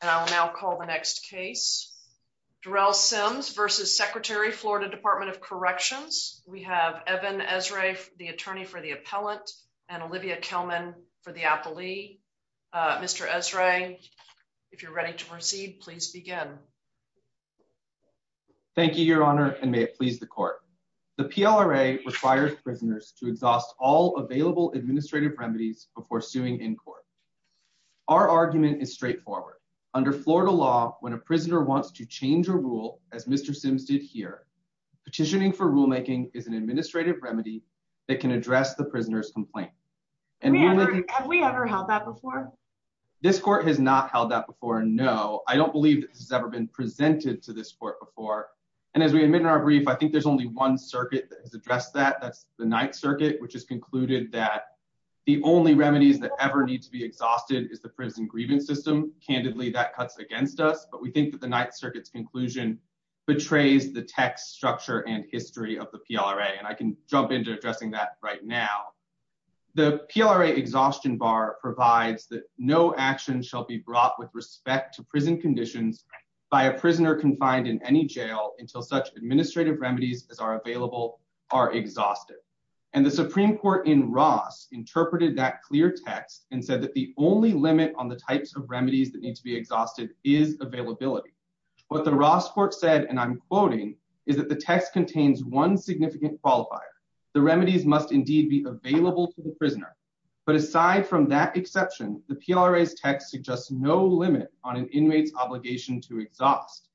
and I will now call the next case. Durell Sims versus Secretary, Florida Department of Corrections. We have Evan Esrae, the attorney for the appellant and Olivia Kelman for the appellee. Uh, Mr Esrae, if you're ready to proceed, please begin. Thank you, Your Honor. And may it please the court. The P. L. R. A. Requires prisoners to exhaust all available administrative remedies before suing in court. Our argument is straightforward. Under Florida law, when a prisoner wants to change a rule, as Mr Sims did here, petitioning for rulemaking is an administrative remedy that can address the prisoner's complaint. And have we ever held that before? This court has not held that before. No, I don't believe this has ever been presented to this court before. And as we admit in our brief, I think there's only one circuit that has addressed that. That's the Ninth Circuit, which has concluded that the only remedies that ever need to be exhausted is the prison grievance system. Candidly, that cuts against us. But we think that the Ninth Circuit's conclusion betrays the text structure and history of the P. L. R. A. And I can jump into addressing that right now. The P. L. R. A. Exhaustion bar provides that no action shall be brought with respect to prison conditions by a prisoner confined in any jail until such administrative remedies as are available are exhausted. And the Supreme Court in Ross interpreted that clear text and said that the only limit on the types of remedies that need to be exhausted is availability. What the Ross court said, and I'm quoting, is that the text contains one significant qualifier. The remedies must indeed be available to the prisoner. But aside from that exception, the P. L. R. A.'s text suggests no limit on an inmate's obligation to exhaust.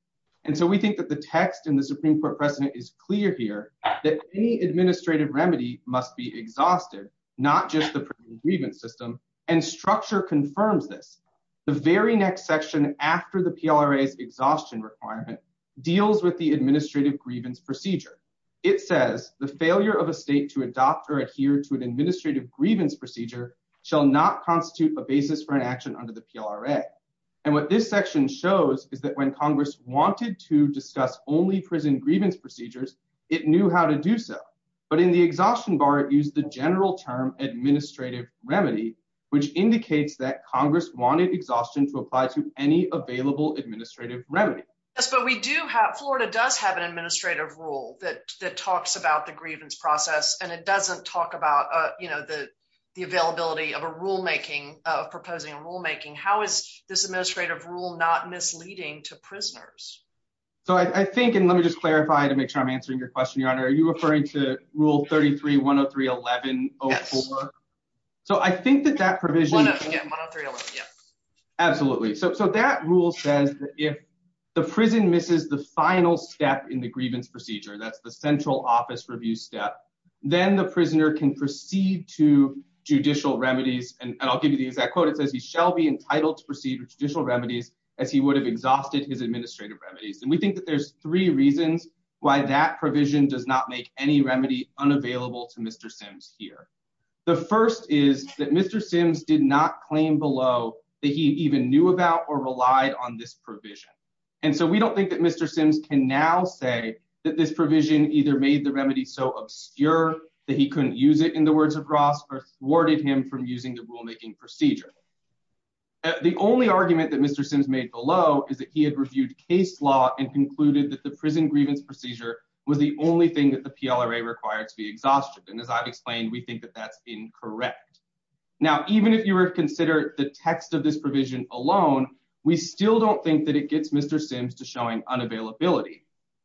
And so we think that the text in the Supreme Court precedent is clear here that any administrative remedy must be exhausted, not just the grievance system and structure confirms this. The very next section after the P. L. R. A.'s exhaustion requirement deals with the administrative grievance procedure. It says the failure of a state to adopt or adhere to an administrative grievance procedure shall not constitute a basis for an action under the P. L. R. A. And what this section shows is that when Congress wanted to discuss only prison grievance procedures, it knew how to do so. But in the exhaustion bar, it used the general term administrative remedy, which indicates that Congress wanted exhaustion to apply to any available administrative remedy. But we do have Florida does have an administrative rule that that talks about the grievance process, and it doesn't talk about, you know, the availability of a rulemaking of proposing rulemaking. How is this administrative rule not misleading to prisoners? So I think and let me just clarify to make sure I'm answering your question, Your Honor. Are you referring to Rule 33 1 of 3? 11? So I think that that provision absolutely so. So that rule says if the prison misses the final step in the grievance procedure, that's the central office review step. Then the prisoner can proceed to judicial remedies, and I'll give you the exact quote. It says he shall be entitled to proceed with judicial remedies as he would have exhausted his administrative remedies. And we think that there's three reasons why that provision does not make any remedy unavailable to Mr Sims here. The first is that Mr Sims did not claim below that he even knew about or relied on this provision. And so we don't think that Mr Sims can now say that this provision either made the remedy so obscure that he couldn't use it in the words across or thwarted him from using the rulemaking procedure. The only argument that Mr Case law and concluded that the prison grievance procedure was the only thing that the P. L. R. A. Required to be exhausted. And as I've explained, we think that that's incorrect. Now, even if you were considered the text of this provision alone, we still don't think that it gets Mr Sims to showing unavailability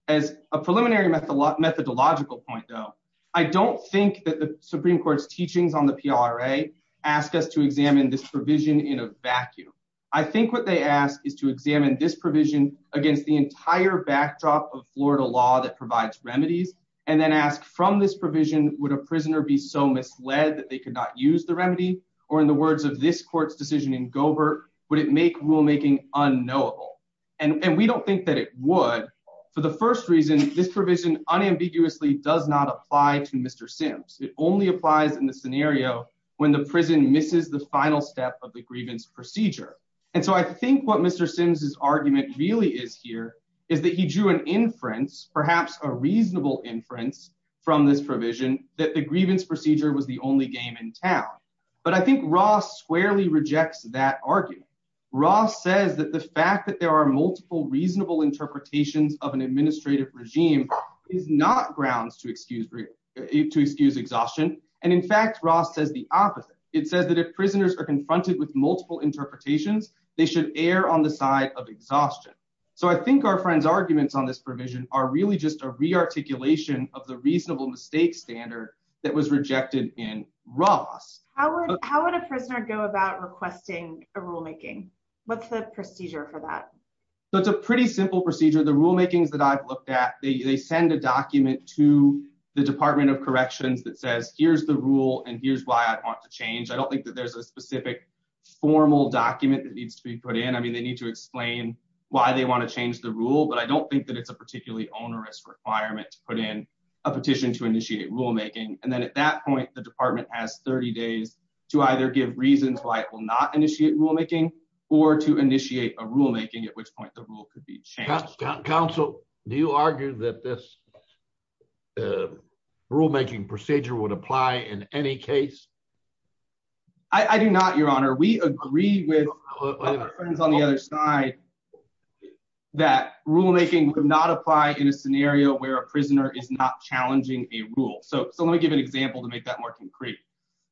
as a preliminary method. Methodological point, though, I don't think that the Supreme Court's teachings on the P. R. A. Ask us to examine this provision in a vacuum. I think what they ask is to examine this vision against the entire backdrop of Florida law that provides remedies and then ask from this provision. Would a prisoner be so misled that they could not use the remedy? Or in the words of this court's decision in Gobert, would it make rulemaking unknowable? And we don't think that it would. For the first reason, this provision unambiguously does not apply to Mr Sims. It only applies in the scenario when the prison misses the final step of the grievance procedure. And so I think what Mr Sims is argument really is here is that he drew an inference, perhaps a reasonable inference from this provision that the grievance procedure was the only game in town. But I think Ross squarely rejects that argument. Ross says that the fact that there are multiple reasonable interpretations of an administrative regime is not grounds to excuse to excuse exhaustion. And in fact, Ross says the opposite. It says that if prisoners are confronted with multiple interpretations, they should err on the side of exhaustion. So I think our friend's arguments on this provision are really just a rearticulation of the reasonable mistake standard that was rejected in Ross. How would how would a prisoner go about requesting a rulemaking? What's the procedure for that? So it's a pretty simple procedure. The rulemakings that I've looked at, they send a document to the Department of Corrections that says, here's the rule, and here's why I want to change. I don't think that there's a specific formal document that needs to be put in. I mean, they need to explain why they want to change the rule, but I don't think that it's a particularly onerous requirement to put in a petition to initiate rulemaking. And then at that point, the department has 30 days to either give reasons why it will not initiate rulemaking or to initiate a rulemaking, at which point the rule could be changed. Council, do you argue that this rulemaking procedure would apply in any case? I do not, Your Honor. We agree with our friends on the other side that rulemaking would not apply in a scenario where a prisoner is not challenging a rule. So let me give an example to make that more concrete.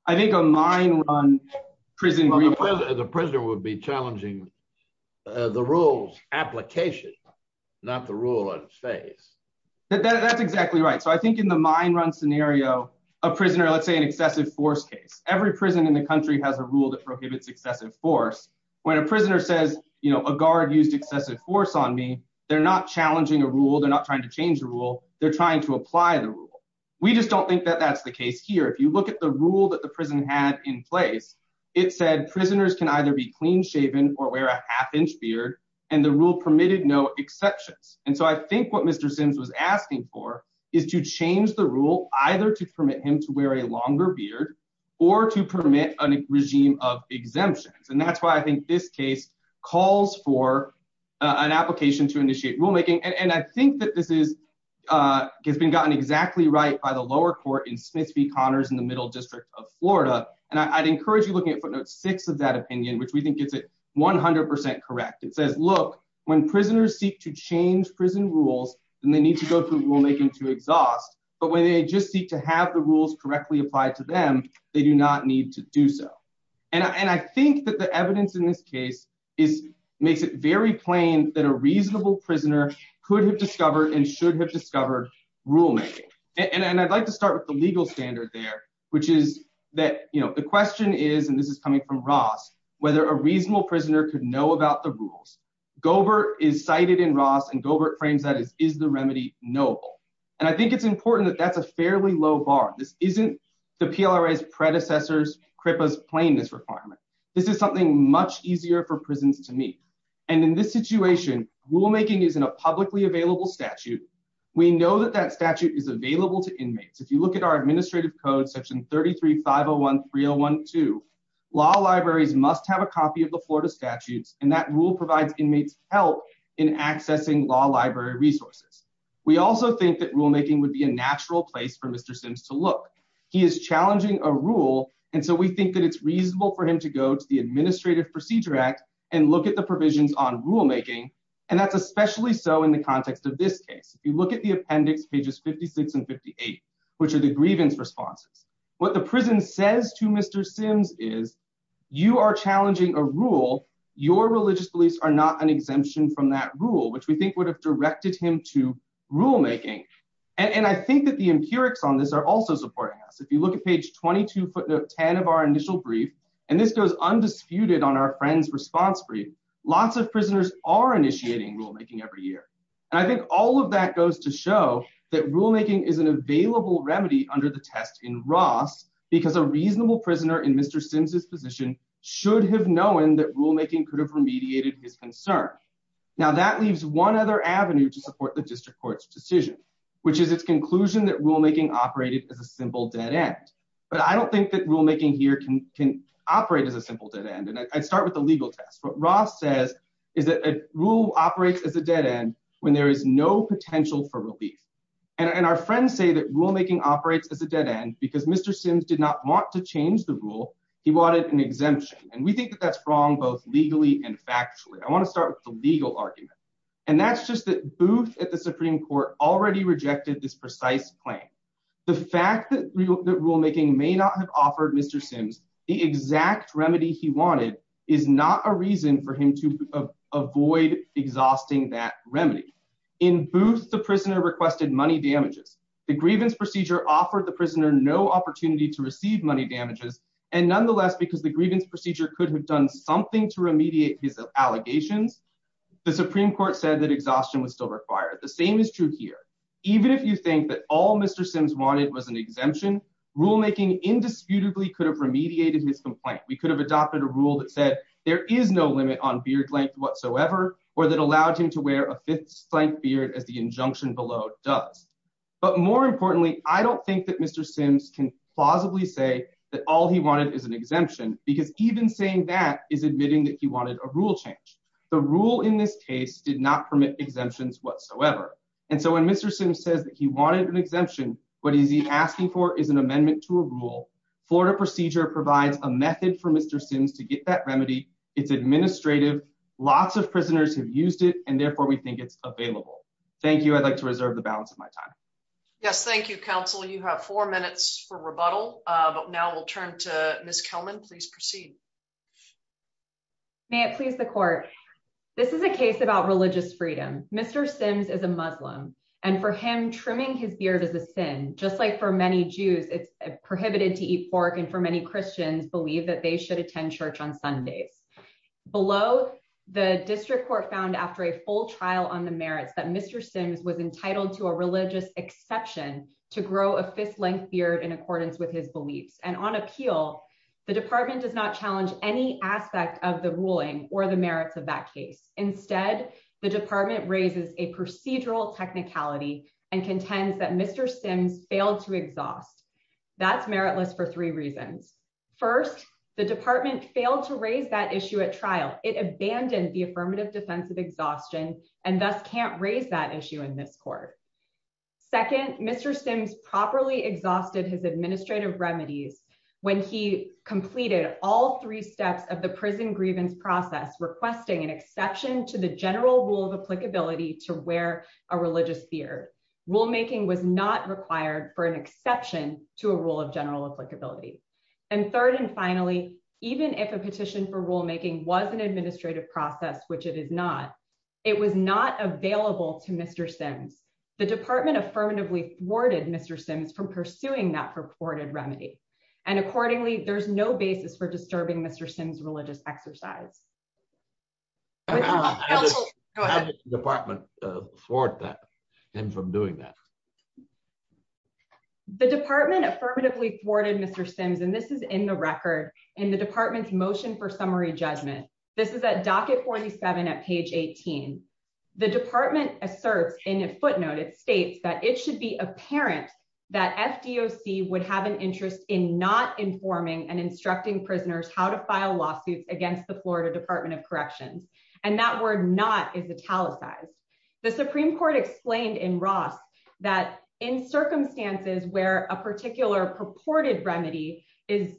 I think a mine run prison... The prisoner would be challenging the rules application, not the rule in phase. That's exactly right. So I think in the mine run scenario, a prisoner... Let's say an excessive force case. Every prison in the country has a rule that prohibits excessive force. When a prisoner says, you know, a guard used excessive force on me, they're not challenging a rule. They're not trying to change the rule. They're trying to apply the rule. We just don't think that that's the case here. If you look at the rule that the prison had in place, it said prisoners can either be clean-shaven or wear a half-inch beard, and the rule permitted no exceptions. And so I think what Mr. Sims was asking for is to change the rule either to permit him to wear a longer beard or to permit a regime of exemptions. And that's why I think this case calls for an application to initiate rulemaking. And I think that this has been gotten exactly right by the lower court in Smith v. Connors in the Middle District of Florida. And I'd encourage you looking at footnote 6 of that opinion, which we think gets it 100% correct. It says, look, when prisoners seek to change prison rules, then they need to go through rulemaking to exhaust, but when they just seek to have the rules correctly applied to them, they do not need to do so. And I think that the evidence in this case makes it very plain that a reasonable prisoner could have discovered and should have discovered rulemaking. And I'd like to start with the legal standard there, which is that, you know, the question is, and this is coming from Ross, whether a in Ross, and Gobert frames that as, is the remedy knowable? And I think it's important that that's a fairly low bar. This isn't the PLRA's predecessors, CRIPA's plainness requirement. This is something much easier for prisons to meet. And in this situation, rulemaking is in a publicly available statute. We know that that statute is available to inmates. If you look at our administrative code, section 33-501-3012, law libraries must have a access to law library resources. We also think that rulemaking would be a natural place for Mr. Sims to look. He is challenging a rule, and so we think that it's reasonable for him to go to the Administrative Procedure Act and look at the provisions on rulemaking, and that's especially so in the context of this case. If you look at the appendix, pages 56 and 58, which are the grievance responses, what the prison says to Mr. Sims is, you are challenging a rule. Your religious beliefs are not an exemption from that rule, which we think would have directed him to rulemaking. And I think that the empirics on this are also supporting us. If you look at page 22 footnote 10 of our initial brief, and this goes undisputed on our friend's response brief, lots of prisoners are initiating rulemaking every year. And I think all of that goes to show that rulemaking is an available remedy under the test in Ross, because a that rulemaking could have remediated his concern. Now, that leaves one other avenue to support the district court's decision, which is its conclusion that rulemaking operated as a simple dead end. But I don't think that rulemaking here can operate as a simple dead end, and I start with the legal test. What Ross says is that a rule operates as a dead end when there is no potential for relief. And our friends say that rulemaking operates as a dead end because Mr. Sims did not want to change the rule. He wanted an exemption, and we think that that's wrong, both legally and factually. I want to start with the legal argument, and that's just that Booth at the Supreme Court already rejected this precise claim. The fact that rulemaking may not have offered Mr. Sims the exact remedy he wanted is not a reason for him to avoid exhausting that remedy. In Booth, the prisoner requested money damages. The grievance procedure offered the prisoner no opportunity to receive money damages, and nonetheless, because the grievance procedure could have done something to remediate his allegations, the Supreme Court said that exhaustion was still required. The same is true here. Even if you think that all Mr. Sims wanted was an exemption, rulemaking indisputably could have remediated his complaint. We could have adopted a rule that said there is no limit on beard length whatsoever, or that allowed him to wear a fifth-length beard as the injunction below does. But more importantly, I don't think that Mr. Sims can plausibly say that all he wanted is an exemption, because even saying that is admitting that he wanted a rule change. The rule in this case did not permit exemptions whatsoever. And so when Mr. Sims says that he wanted an exemption, what is he asking for is an amendment to a rule. Florida procedure provides a method for Mr. Sims to get that remedy. It's administrative. Lots of prisoners have used it, and therefore we think it's available. Thank you. I'd like to reserve the balance of my time. Yes, thank you, Counsel. You have four minutes. And now we'll turn to Ms. Kelman. Please proceed. May it please the court. This is a case about religious freedom. Mr. Sims is a Muslim, and for him, trimming his beard is a sin. Just like for many Jews, it's prohibited to eat pork, and for many Christians, believe that they should attend church on Sundays. Below, the district court found after a full trial on the merits that Mr. Sims was entitled to a religious exception to grow a length beard in accordance with his beliefs. And on appeal, the department does not challenge any aspect of the ruling or the merits of that case. Instead, the department raises a procedural technicality and contends that Mr. Sims failed to exhaust. That's meritless for three reasons. First, the department failed to raise that issue at trial, it abandoned the affirmative defense of exhaustion, and thus can't raise that issue in this court. Second, Mr. Sims properly exhausted his administrative remedies, when he completed all three steps of the prison grievance process requesting an exception to the general rule of applicability to wear a religious beard. rulemaking was not required for an exception to a rule of general applicability. And third, and finally, even if a petition for rulemaking was an administrative process, which it is not, it was not available to Mr. Sims, the worded Mr. Sims from pursuing that purported remedy. And accordingly, there's no basis for disturbing Mr. Sims religious exercise. Department for that, and from doing that. The department affirmatively thwarted Mr. Sims, and this is in the record in the department's motion for summary judgment. This is a docket 47 at page 18. The department asserts in a footnote, it states that it should be apparent that FDOC would have an interest in not informing and instructing prisoners how to file lawsuits against the Florida Department of Corrections. And that word not is italicized. The Supreme Court explained in Ross, that in circumstances where a particular purported remedy is,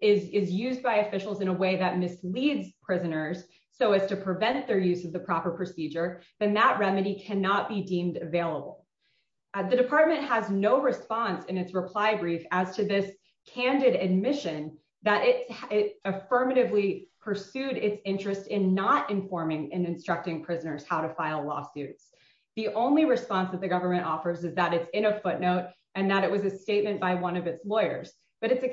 is used by officials in a way that misleads prisoners, so as to prevent their use of the proper procedure, then that remedy cannot be deemed available. The department has no response in its reply brief as to this candid admission that it affirmatively pursued its interest in not informing and instructing prisoners how to file lawsuits. The only response that the government offers is that it's in a footnote, and that it was a statement by one of its lawyers, but it's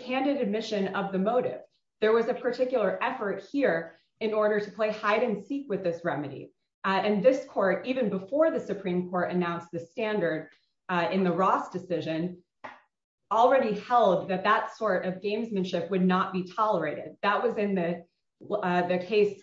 a particular effort here in order to play hide and seek with this remedy. And this court even before the Supreme Court announced the standard in the Ross decision, already held that that sort of gamesmanship would not be tolerated. That was in the case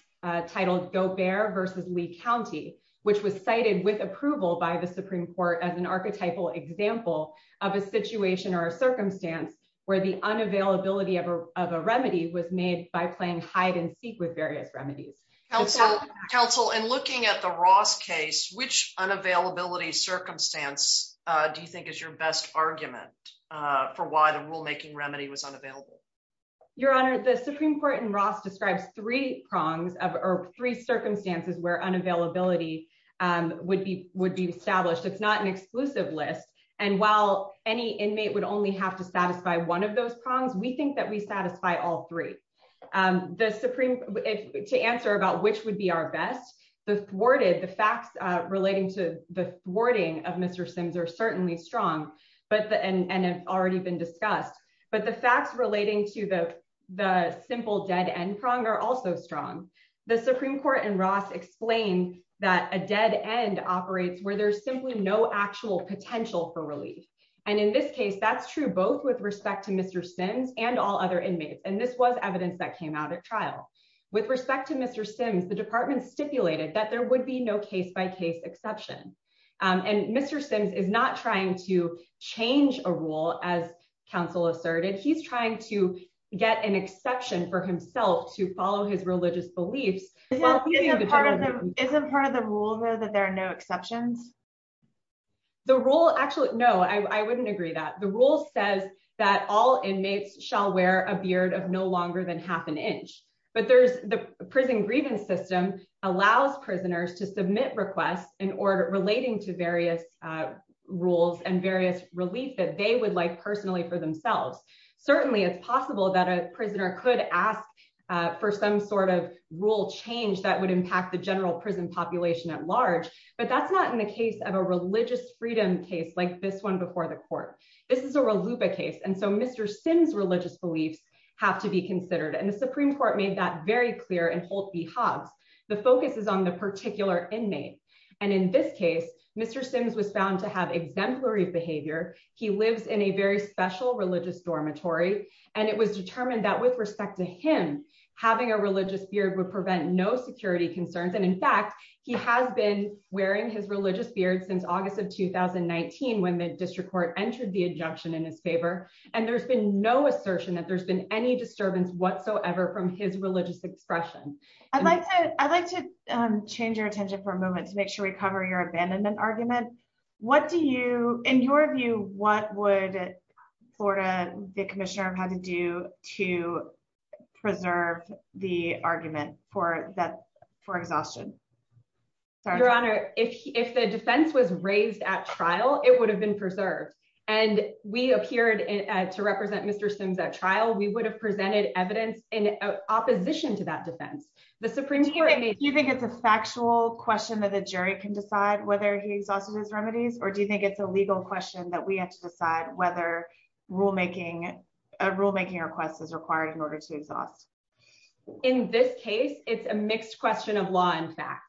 titled Go Bear versus Lee County, which was cited with approval by the Supreme Court as an archetypal example of a situation or a circumstance where the unavailability of a remedy was made by playing hide and seek with various remedies. Counsel, counsel and looking at the Ross case, which unavailability circumstance do you think is your best argument for why the rulemaking remedy was unavailable? Your Honor, the Supreme Court in Ross describes three prongs of three circumstances where unavailability would be would be established. It's not an exclusive list. And while any inmate would only have to satisfy one of those prongs, we think that we satisfy all three. The Supreme to answer about which would be our best, the thwarted the facts relating to the thwarting of Mr. Sims are certainly strong, but the and have already been discussed. But the facts relating to the the simple dead end prong are also strong. The Supreme Court in Ross explained that a dead end operates where there's simply no actual potential for relief. And in this case, that's true both with respect to Mr. Sims and all other inmates. And this was evidence that came out at trial. With respect to Mr. Sims, the department stipulated that there would be no case by case exception. And Mr. Sims is not trying to change a rule as counsel asserted. He's trying to get an exception for himself to follow his religious beliefs. Isn't part of the rule that there are no exceptions? The rule actually, no, I wouldn't agree that the rule says that all inmates shall wear a beard of no longer than half an inch. But there's the prison grievance system allows prisoners to submit requests in order relating to various rules and various relief that they would like personally for themselves. Certainly, it's possible that a prisoner could ask for some sort of rule change that would impact the general prison population at large. But that's not in the case of a religious freedom case like this one before the court. This is a reluba case. And so Mr. Sims religious beliefs have to be considered. And the Supreme Court made that very clear and hold the hogs. The focus is on the particular inmate. And in this case, Mr. Sims was found to have exemplary behavior. He lives in a very special religious dormitory. And it was determined that with respect to him, having a religious beard would prevent no security concerns. And in fact, he has been wearing his religious beard since August of 2019. When the district court entered the injunction in his favor, and there's been no assertion that there's been any disturbance whatsoever from his religious expression. I'd like to I'd like to change your attention for a moment to make sure we cover your abandonment argument. What do you in your view, what would Florida the for exhaustion? Your Honor, if the defense was raised at trial, it would have been preserved. And we appeared to represent Mr. Sims at trial, we would have presented evidence in opposition to that defense. The Supreme Court made you think it's a factual question that the jury can decide whether he's also his remedies? Or do you think it's a legal question that we have to decide whether rulemaking a rulemaking request is required in order to exhaust? In this case, it's a mixed question of law. In fact,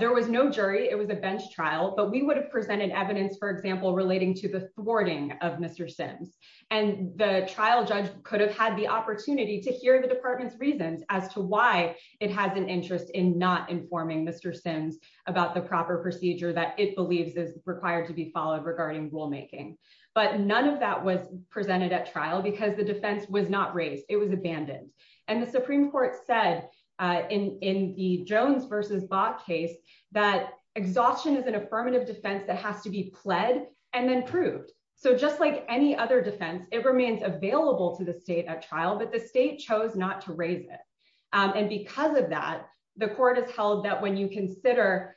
there was no jury, it was a bench trial, but we would have presented evidence, for example, relating to the thwarting of Mr. Sims. And the trial judge could have had the opportunity to hear the department's reasons as to why it has an interest in not informing Mr. Sims about the proper procedure that it believes is required to be followed regarding rulemaking. But none of that was presented at trial because the defense was not raised, it was abandoned. And the Supreme Court said, in the Jones versus Bott case, that exhaustion is an affirmative defense that has to be pled and then proved. So just like any other defense, it remains available to the state at trial, but the state chose not to raise it. And because of that, the court has held that when you consider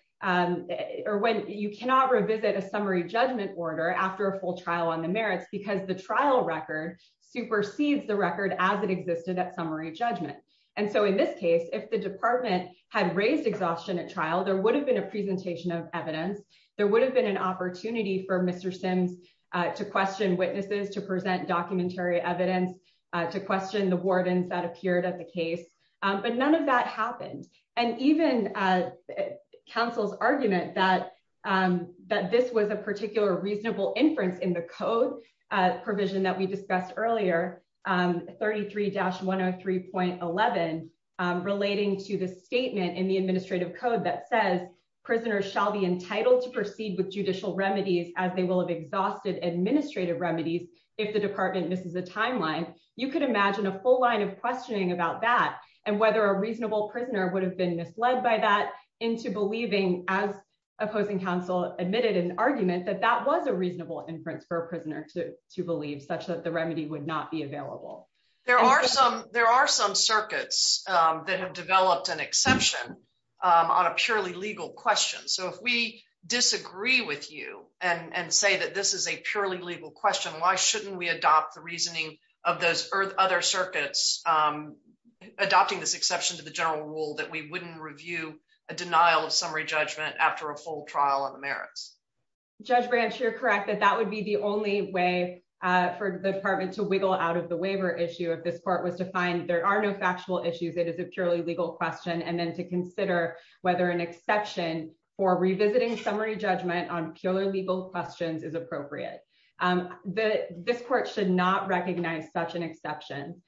or when you cannot revisit a summary judgment order after a full trial on the merits, because the trial record supersedes the record as it existed at summary judgment. And so in this case, if the department had raised exhaustion at trial, there would have been a presentation of evidence, there would have been an opportunity for Mr. Sims to question witnesses to present documentary evidence to question the wardens that appeared at the case. But none of that happened. And even counsel's argument that that this was a particular reasonable inference in the code provision that we discussed earlier, 33-103.11, relating to the statement in the administrative code that says, prisoners shall be entitled to proceed with judicial remedies as they will have exhausted administrative remedies. If the department misses the timeline, you could imagine a full line of questioning about that, and whether a reasonable prisoner would have been misled by that into believing as opposing counsel admitted an argument that that was a reasonable inference for a prisoner to believe such that the remedy would not be available. There are some circuits that have developed an exception on a purely legal question. So if we disagree with you and say that this is a purely legal question, why shouldn't we adopt the reasoning of those other circuits, adopting this exception to the general rule that we wouldn't review a denial of summary judgment after a full trial on the merits? Judge Branch, you're correct that that would be the only way for the department to wiggle out of the waiver issue if this court was to find there are no factual issues, it is a purely legal question, and then to consider whether an exception for revisiting summary judgment on purely legal questions is appropriate. This court should not recognize such an exception.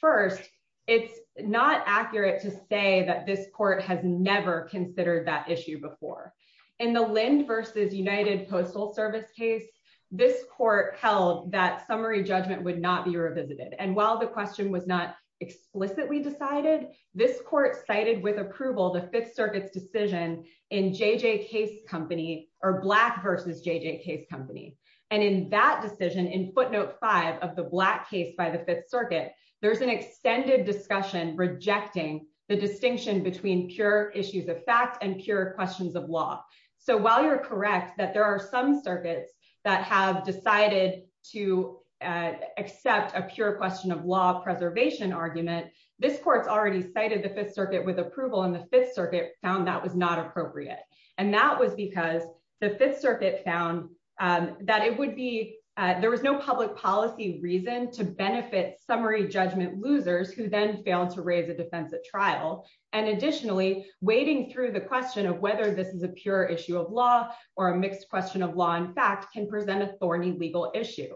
First, it's not accurate to say that this court has never considered that issue before. In the Lind versus United Postal Service case, this court held that summary judgment would not be revisited. And while the question was not explicitly decided, this court cited with approval the Fifth Circuit's decision in JJ Case Company, or Black versus JJ Case Company. And in that decision, in footnote five of the Black case by the Fifth Circuit, there's an extended discussion rejecting the distinction between pure issues of fact and pure questions of law. So while you're correct that there are some circuits that have decided to accept a pure question of law preservation argument, this court's already cited the Fifth Circuit with approval and the Fifth Circuit found that was not appropriate. And that was because the Fifth Circuit found that it would be there was no public policy reason to benefit summary judgment losers who then failed to raise a defense at trial. And additionally, wading through the question of whether this is a pure issue of law, or a mixed question of law and fact can present a thorny legal issue.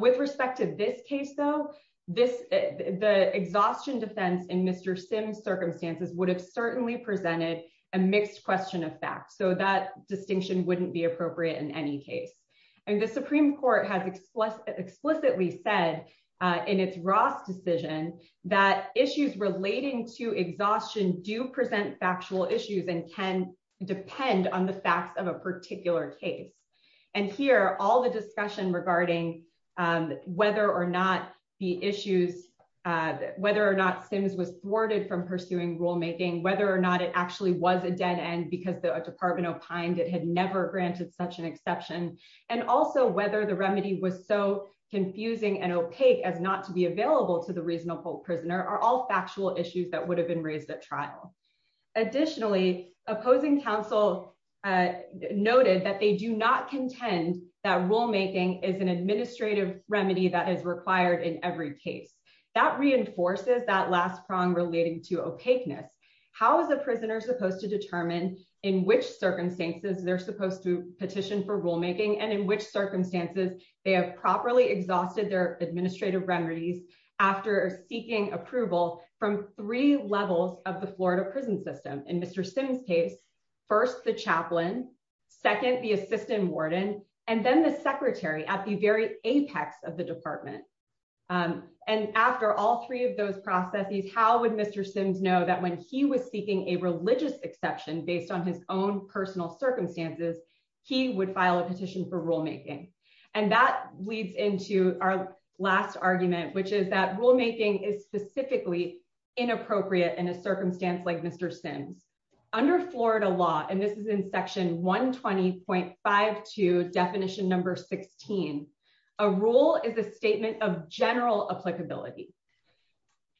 With respect to this case, though, this the exhaustion defense in Mr. Sims circumstances would have certainly presented a mixed question of fact. So that distinction wouldn't be appropriate in any case. And the Supreme Court has explicitly explicitly said, in its Ross decision, that issues relating to exhaustion do present factual issues and can depend on the facts of a particular case. And here all the discussion regarding whether or not the issues, whether or not Sims was thwarted from pursuing rulemaking, whether or not it actually was a dead end, because the department opined it had never granted such an exception. And also whether the remedy was so confusing and opaque as not to be available to the reasonable prisoner are all factual issues that would have been raised at trial. Additionally, opposing counsel noted that they do not contend that rulemaking is an administrative remedy that is required in every case that reinforces that last prong relating to opaqueness. How is a prisoner supposed to determine in which circumstances they're supposed to petition for rulemaking and in which circumstances they have properly exhausted their administrative remedies after seeking approval from three levels of the Florida prison system in Mr. Sims case, first, the chaplain, second, the assistant warden, and then the secretary at the apex of the department. And after all three of those processes, how would Mr. Sims know that when he was seeking a religious exception based on his own personal circumstances, he would file a petition for rulemaking. And that leads into our last argument, which is that rulemaking is specifically inappropriate in a circumstance like Mr. Sims, under Florida law, and this is in section 120.52 definition number 16. A rule is a statement of general applicability.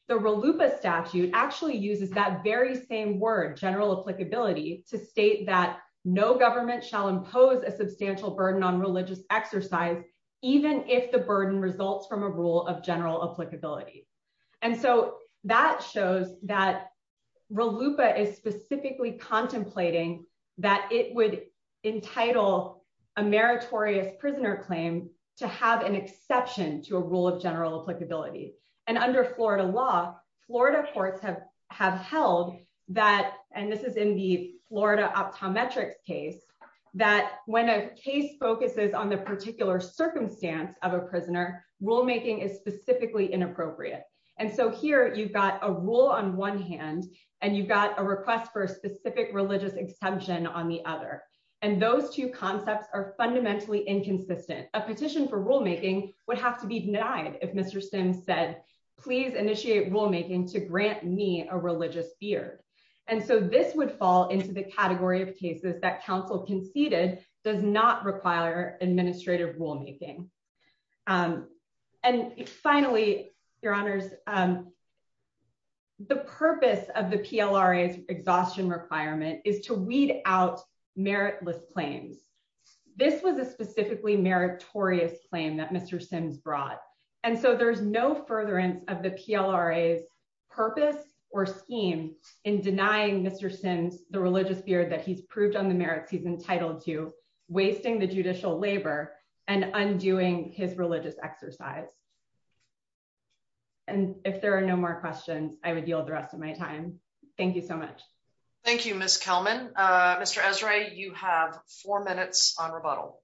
The RLUPA statute actually uses that very same word general applicability to state that no government shall impose a substantial burden on religious exercise, even if the burden results from a rule of general applicability. And so that shows that RLUPA is specifically contemplating that it would entitle a meritorious prisoner claim to have an exception to a rule of general applicability. And under Florida law, Florida courts have have held that and this is in the Florida optometrics case, that when a case focuses on the particular circumstance of a prisoner rulemaking is specifically inappropriate. And so here you've got a rule on one hand, and you've got a request for a specific religious exception on the other. And those two concepts are fundamentally inconsistent. A petition for rulemaking would have to be denied if Mr. Sims said, please initiate rulemaking to grant me a religious beard. And so this would fall into the category of cases that counsel conceded does not require administrative rulemaking. And finally, Your Honors, the purpose of the PLRA is exhaustion requirement is to weed out meritless claims. This was a specifically meritorious claim that Mr. Sims brought. And so there's no furtherance of the PLRA is purpose or scheme in denying Mr. Sims the religious beard that he's and undoing his religious exercise. And if there are no more questions, I would yield the rest of my time. Thank you so much. Thank you, Miss Kelman. Mr. Esrae, you have four minutes on rebuttal.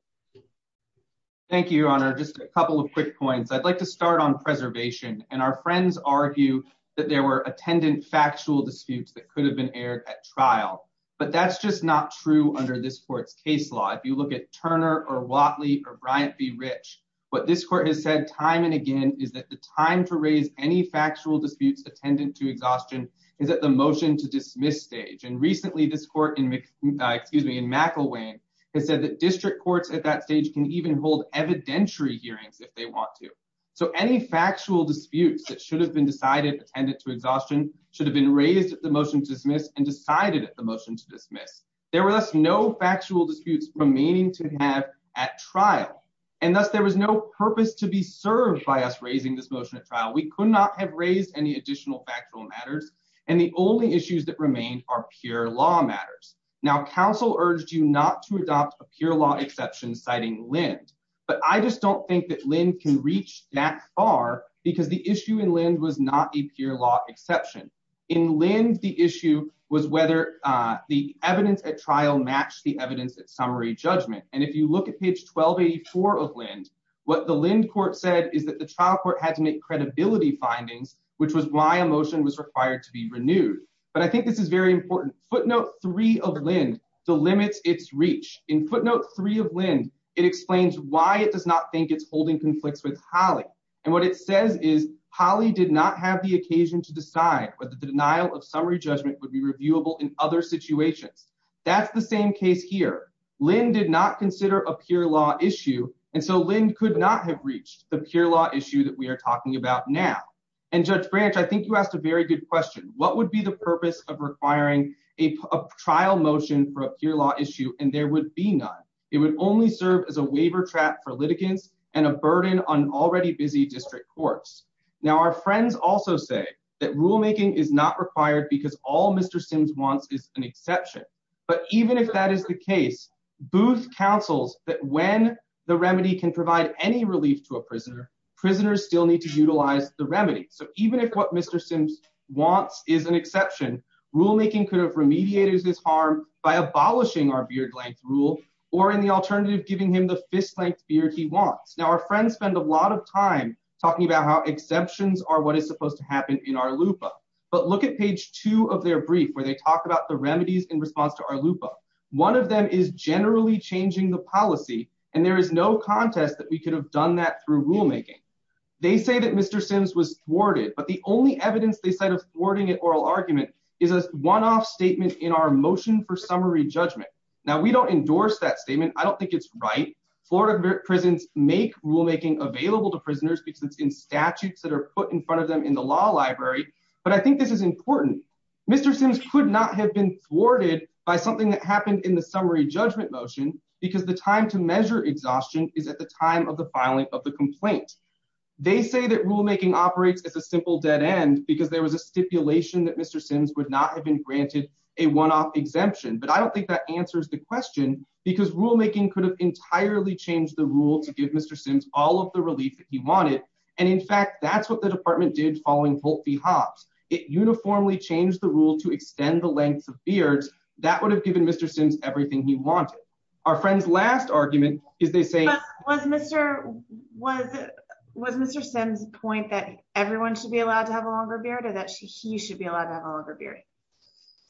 Thank you, Your Honor, just a couple of quick points. I'd like to start on preservation and our friends argue that there were attendant factual disputes that could have been aired at trial. But that's just not true under this court's be rich. But this court has said time and again is that the time to raise any factual disputes attendant to exhaustion is that the motion to dismiss stage and recently this court in excuse me in McElwain has said that district courts at that stage can even hold evidentiary hearings if they want to. So any factual disputes that should have been decided attendant to exhaustion should have been raised at the motion to dismiss and decided at the motion to dismiss. There And thus there was no purpose to be served by us raising this motion at trial. We could not have raised any additional factual matters. And the only issues that remain are pure law matters. Now, counsel urged you not to adopt a pure law exception, citing Lind. But I just don't think that Lin can reach that far because the issue in land was not a pure law exception. In land, the issue was whether the evidence at trial matched the evidence at summary judgment. And if you look at page 12 84 of land, what the Lind court said is that the child court had to make credibility findings, which was why emotion was required to be renewed. But I think this is very important. Footnote three of Lin the limits its reach in footnote three of Lin. It explains why it does not think it's holding conflicts with Holly. And what it says is Holly did not have the occasion to decide whether the denial of summary judgment would be reviewable in other situations. That's the same case here. Lin did not consider a pure law issue, and so Lin could not have reached the pure law issue that we are talking about now. And Judge Branch, I think you asked a very good question. What would be the purpose of requiring a trial motion for a pure law issue? And there would be none. It would only serve as a waiver trap for litigants and a burden on already busy district courts. Now, our friends also say that rule is an exception. But even if that is the case, booth councils that when the remedy can provide any relief to a prisoner, prisoners still need to utilize the remedy. So even if what Mr Sims wants is an exception, rule making could have remediated his harm by abolishing our beard length rule or in the alternative, giving him the fist length beard he wants. Now, our friends spend a lot of time talking about how exceptions are what is supposed to talk about the remedies in response to our loop up. One of them is generally changing the policy, and there is no contest that we could have done that through rulemaking. They say that Mr Sims was thwarted, but the only evidence they said of thwarting it oral argument is a one off statement in our motion for summary judgment. Now we don't endorse that statement. I don't think it's right. Florida prisons make rulemaking available to prisoners because it's in statutes that are put in front of them in the law library. But I think this is important. Mr Sims could not have been thwarted by something that happened in the summary judgment motion because the time to measure exhaustion is at the time of the filing of the complaint. They say that rulemaking operates as a simple dead end because there was a stipulation that Mr Sims would not have been granted a one off exemption. But I don't think that answers the question because rulemaking could have entirely changed the rule to give Mr Sims all of the relief that he wanted. And in fact, that's what the department did following pulpy hops. It uniformly changed the rule to extend the length of beards that would have given Mr Sims everything he wanted. Our friends last argument is they say was Mr was was Mr Sims point that everyone should be allowed to have a longer beard or that he should be allowed to have a longer beard.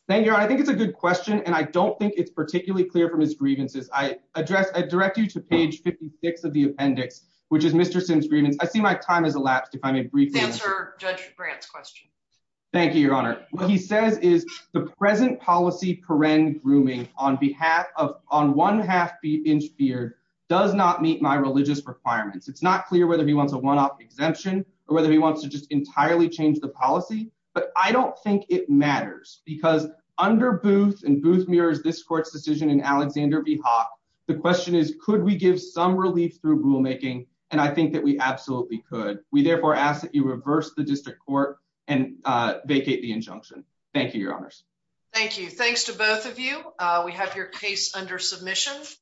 Thank you. I think it's a good question, and I don't think it's particularly clear from his grievances. I address. I direct you to page 56 of the appendix, which is Mr Sims grievance. I see my time has elapsed. If I may briefly answer Judge Brant's question. Thank you, Your Honor. He says is the present policy. Peren grooming on behalf of on one half inch beard does not meet my religious requirements. It's not clear whether he wants a one off exemption or whether he wants to just entirely change the policy. But I don't think it matters because under booth and booth mirrors this court's decision in Alexander V Hawk, the question is, could we give some relief through rulemaking? And I think that we absolutely could. We therefore ask that you reverse the district court and vacate the injunction. Thank you, Your Honors. Thank you. Thanks to both of you. We have your case under submission.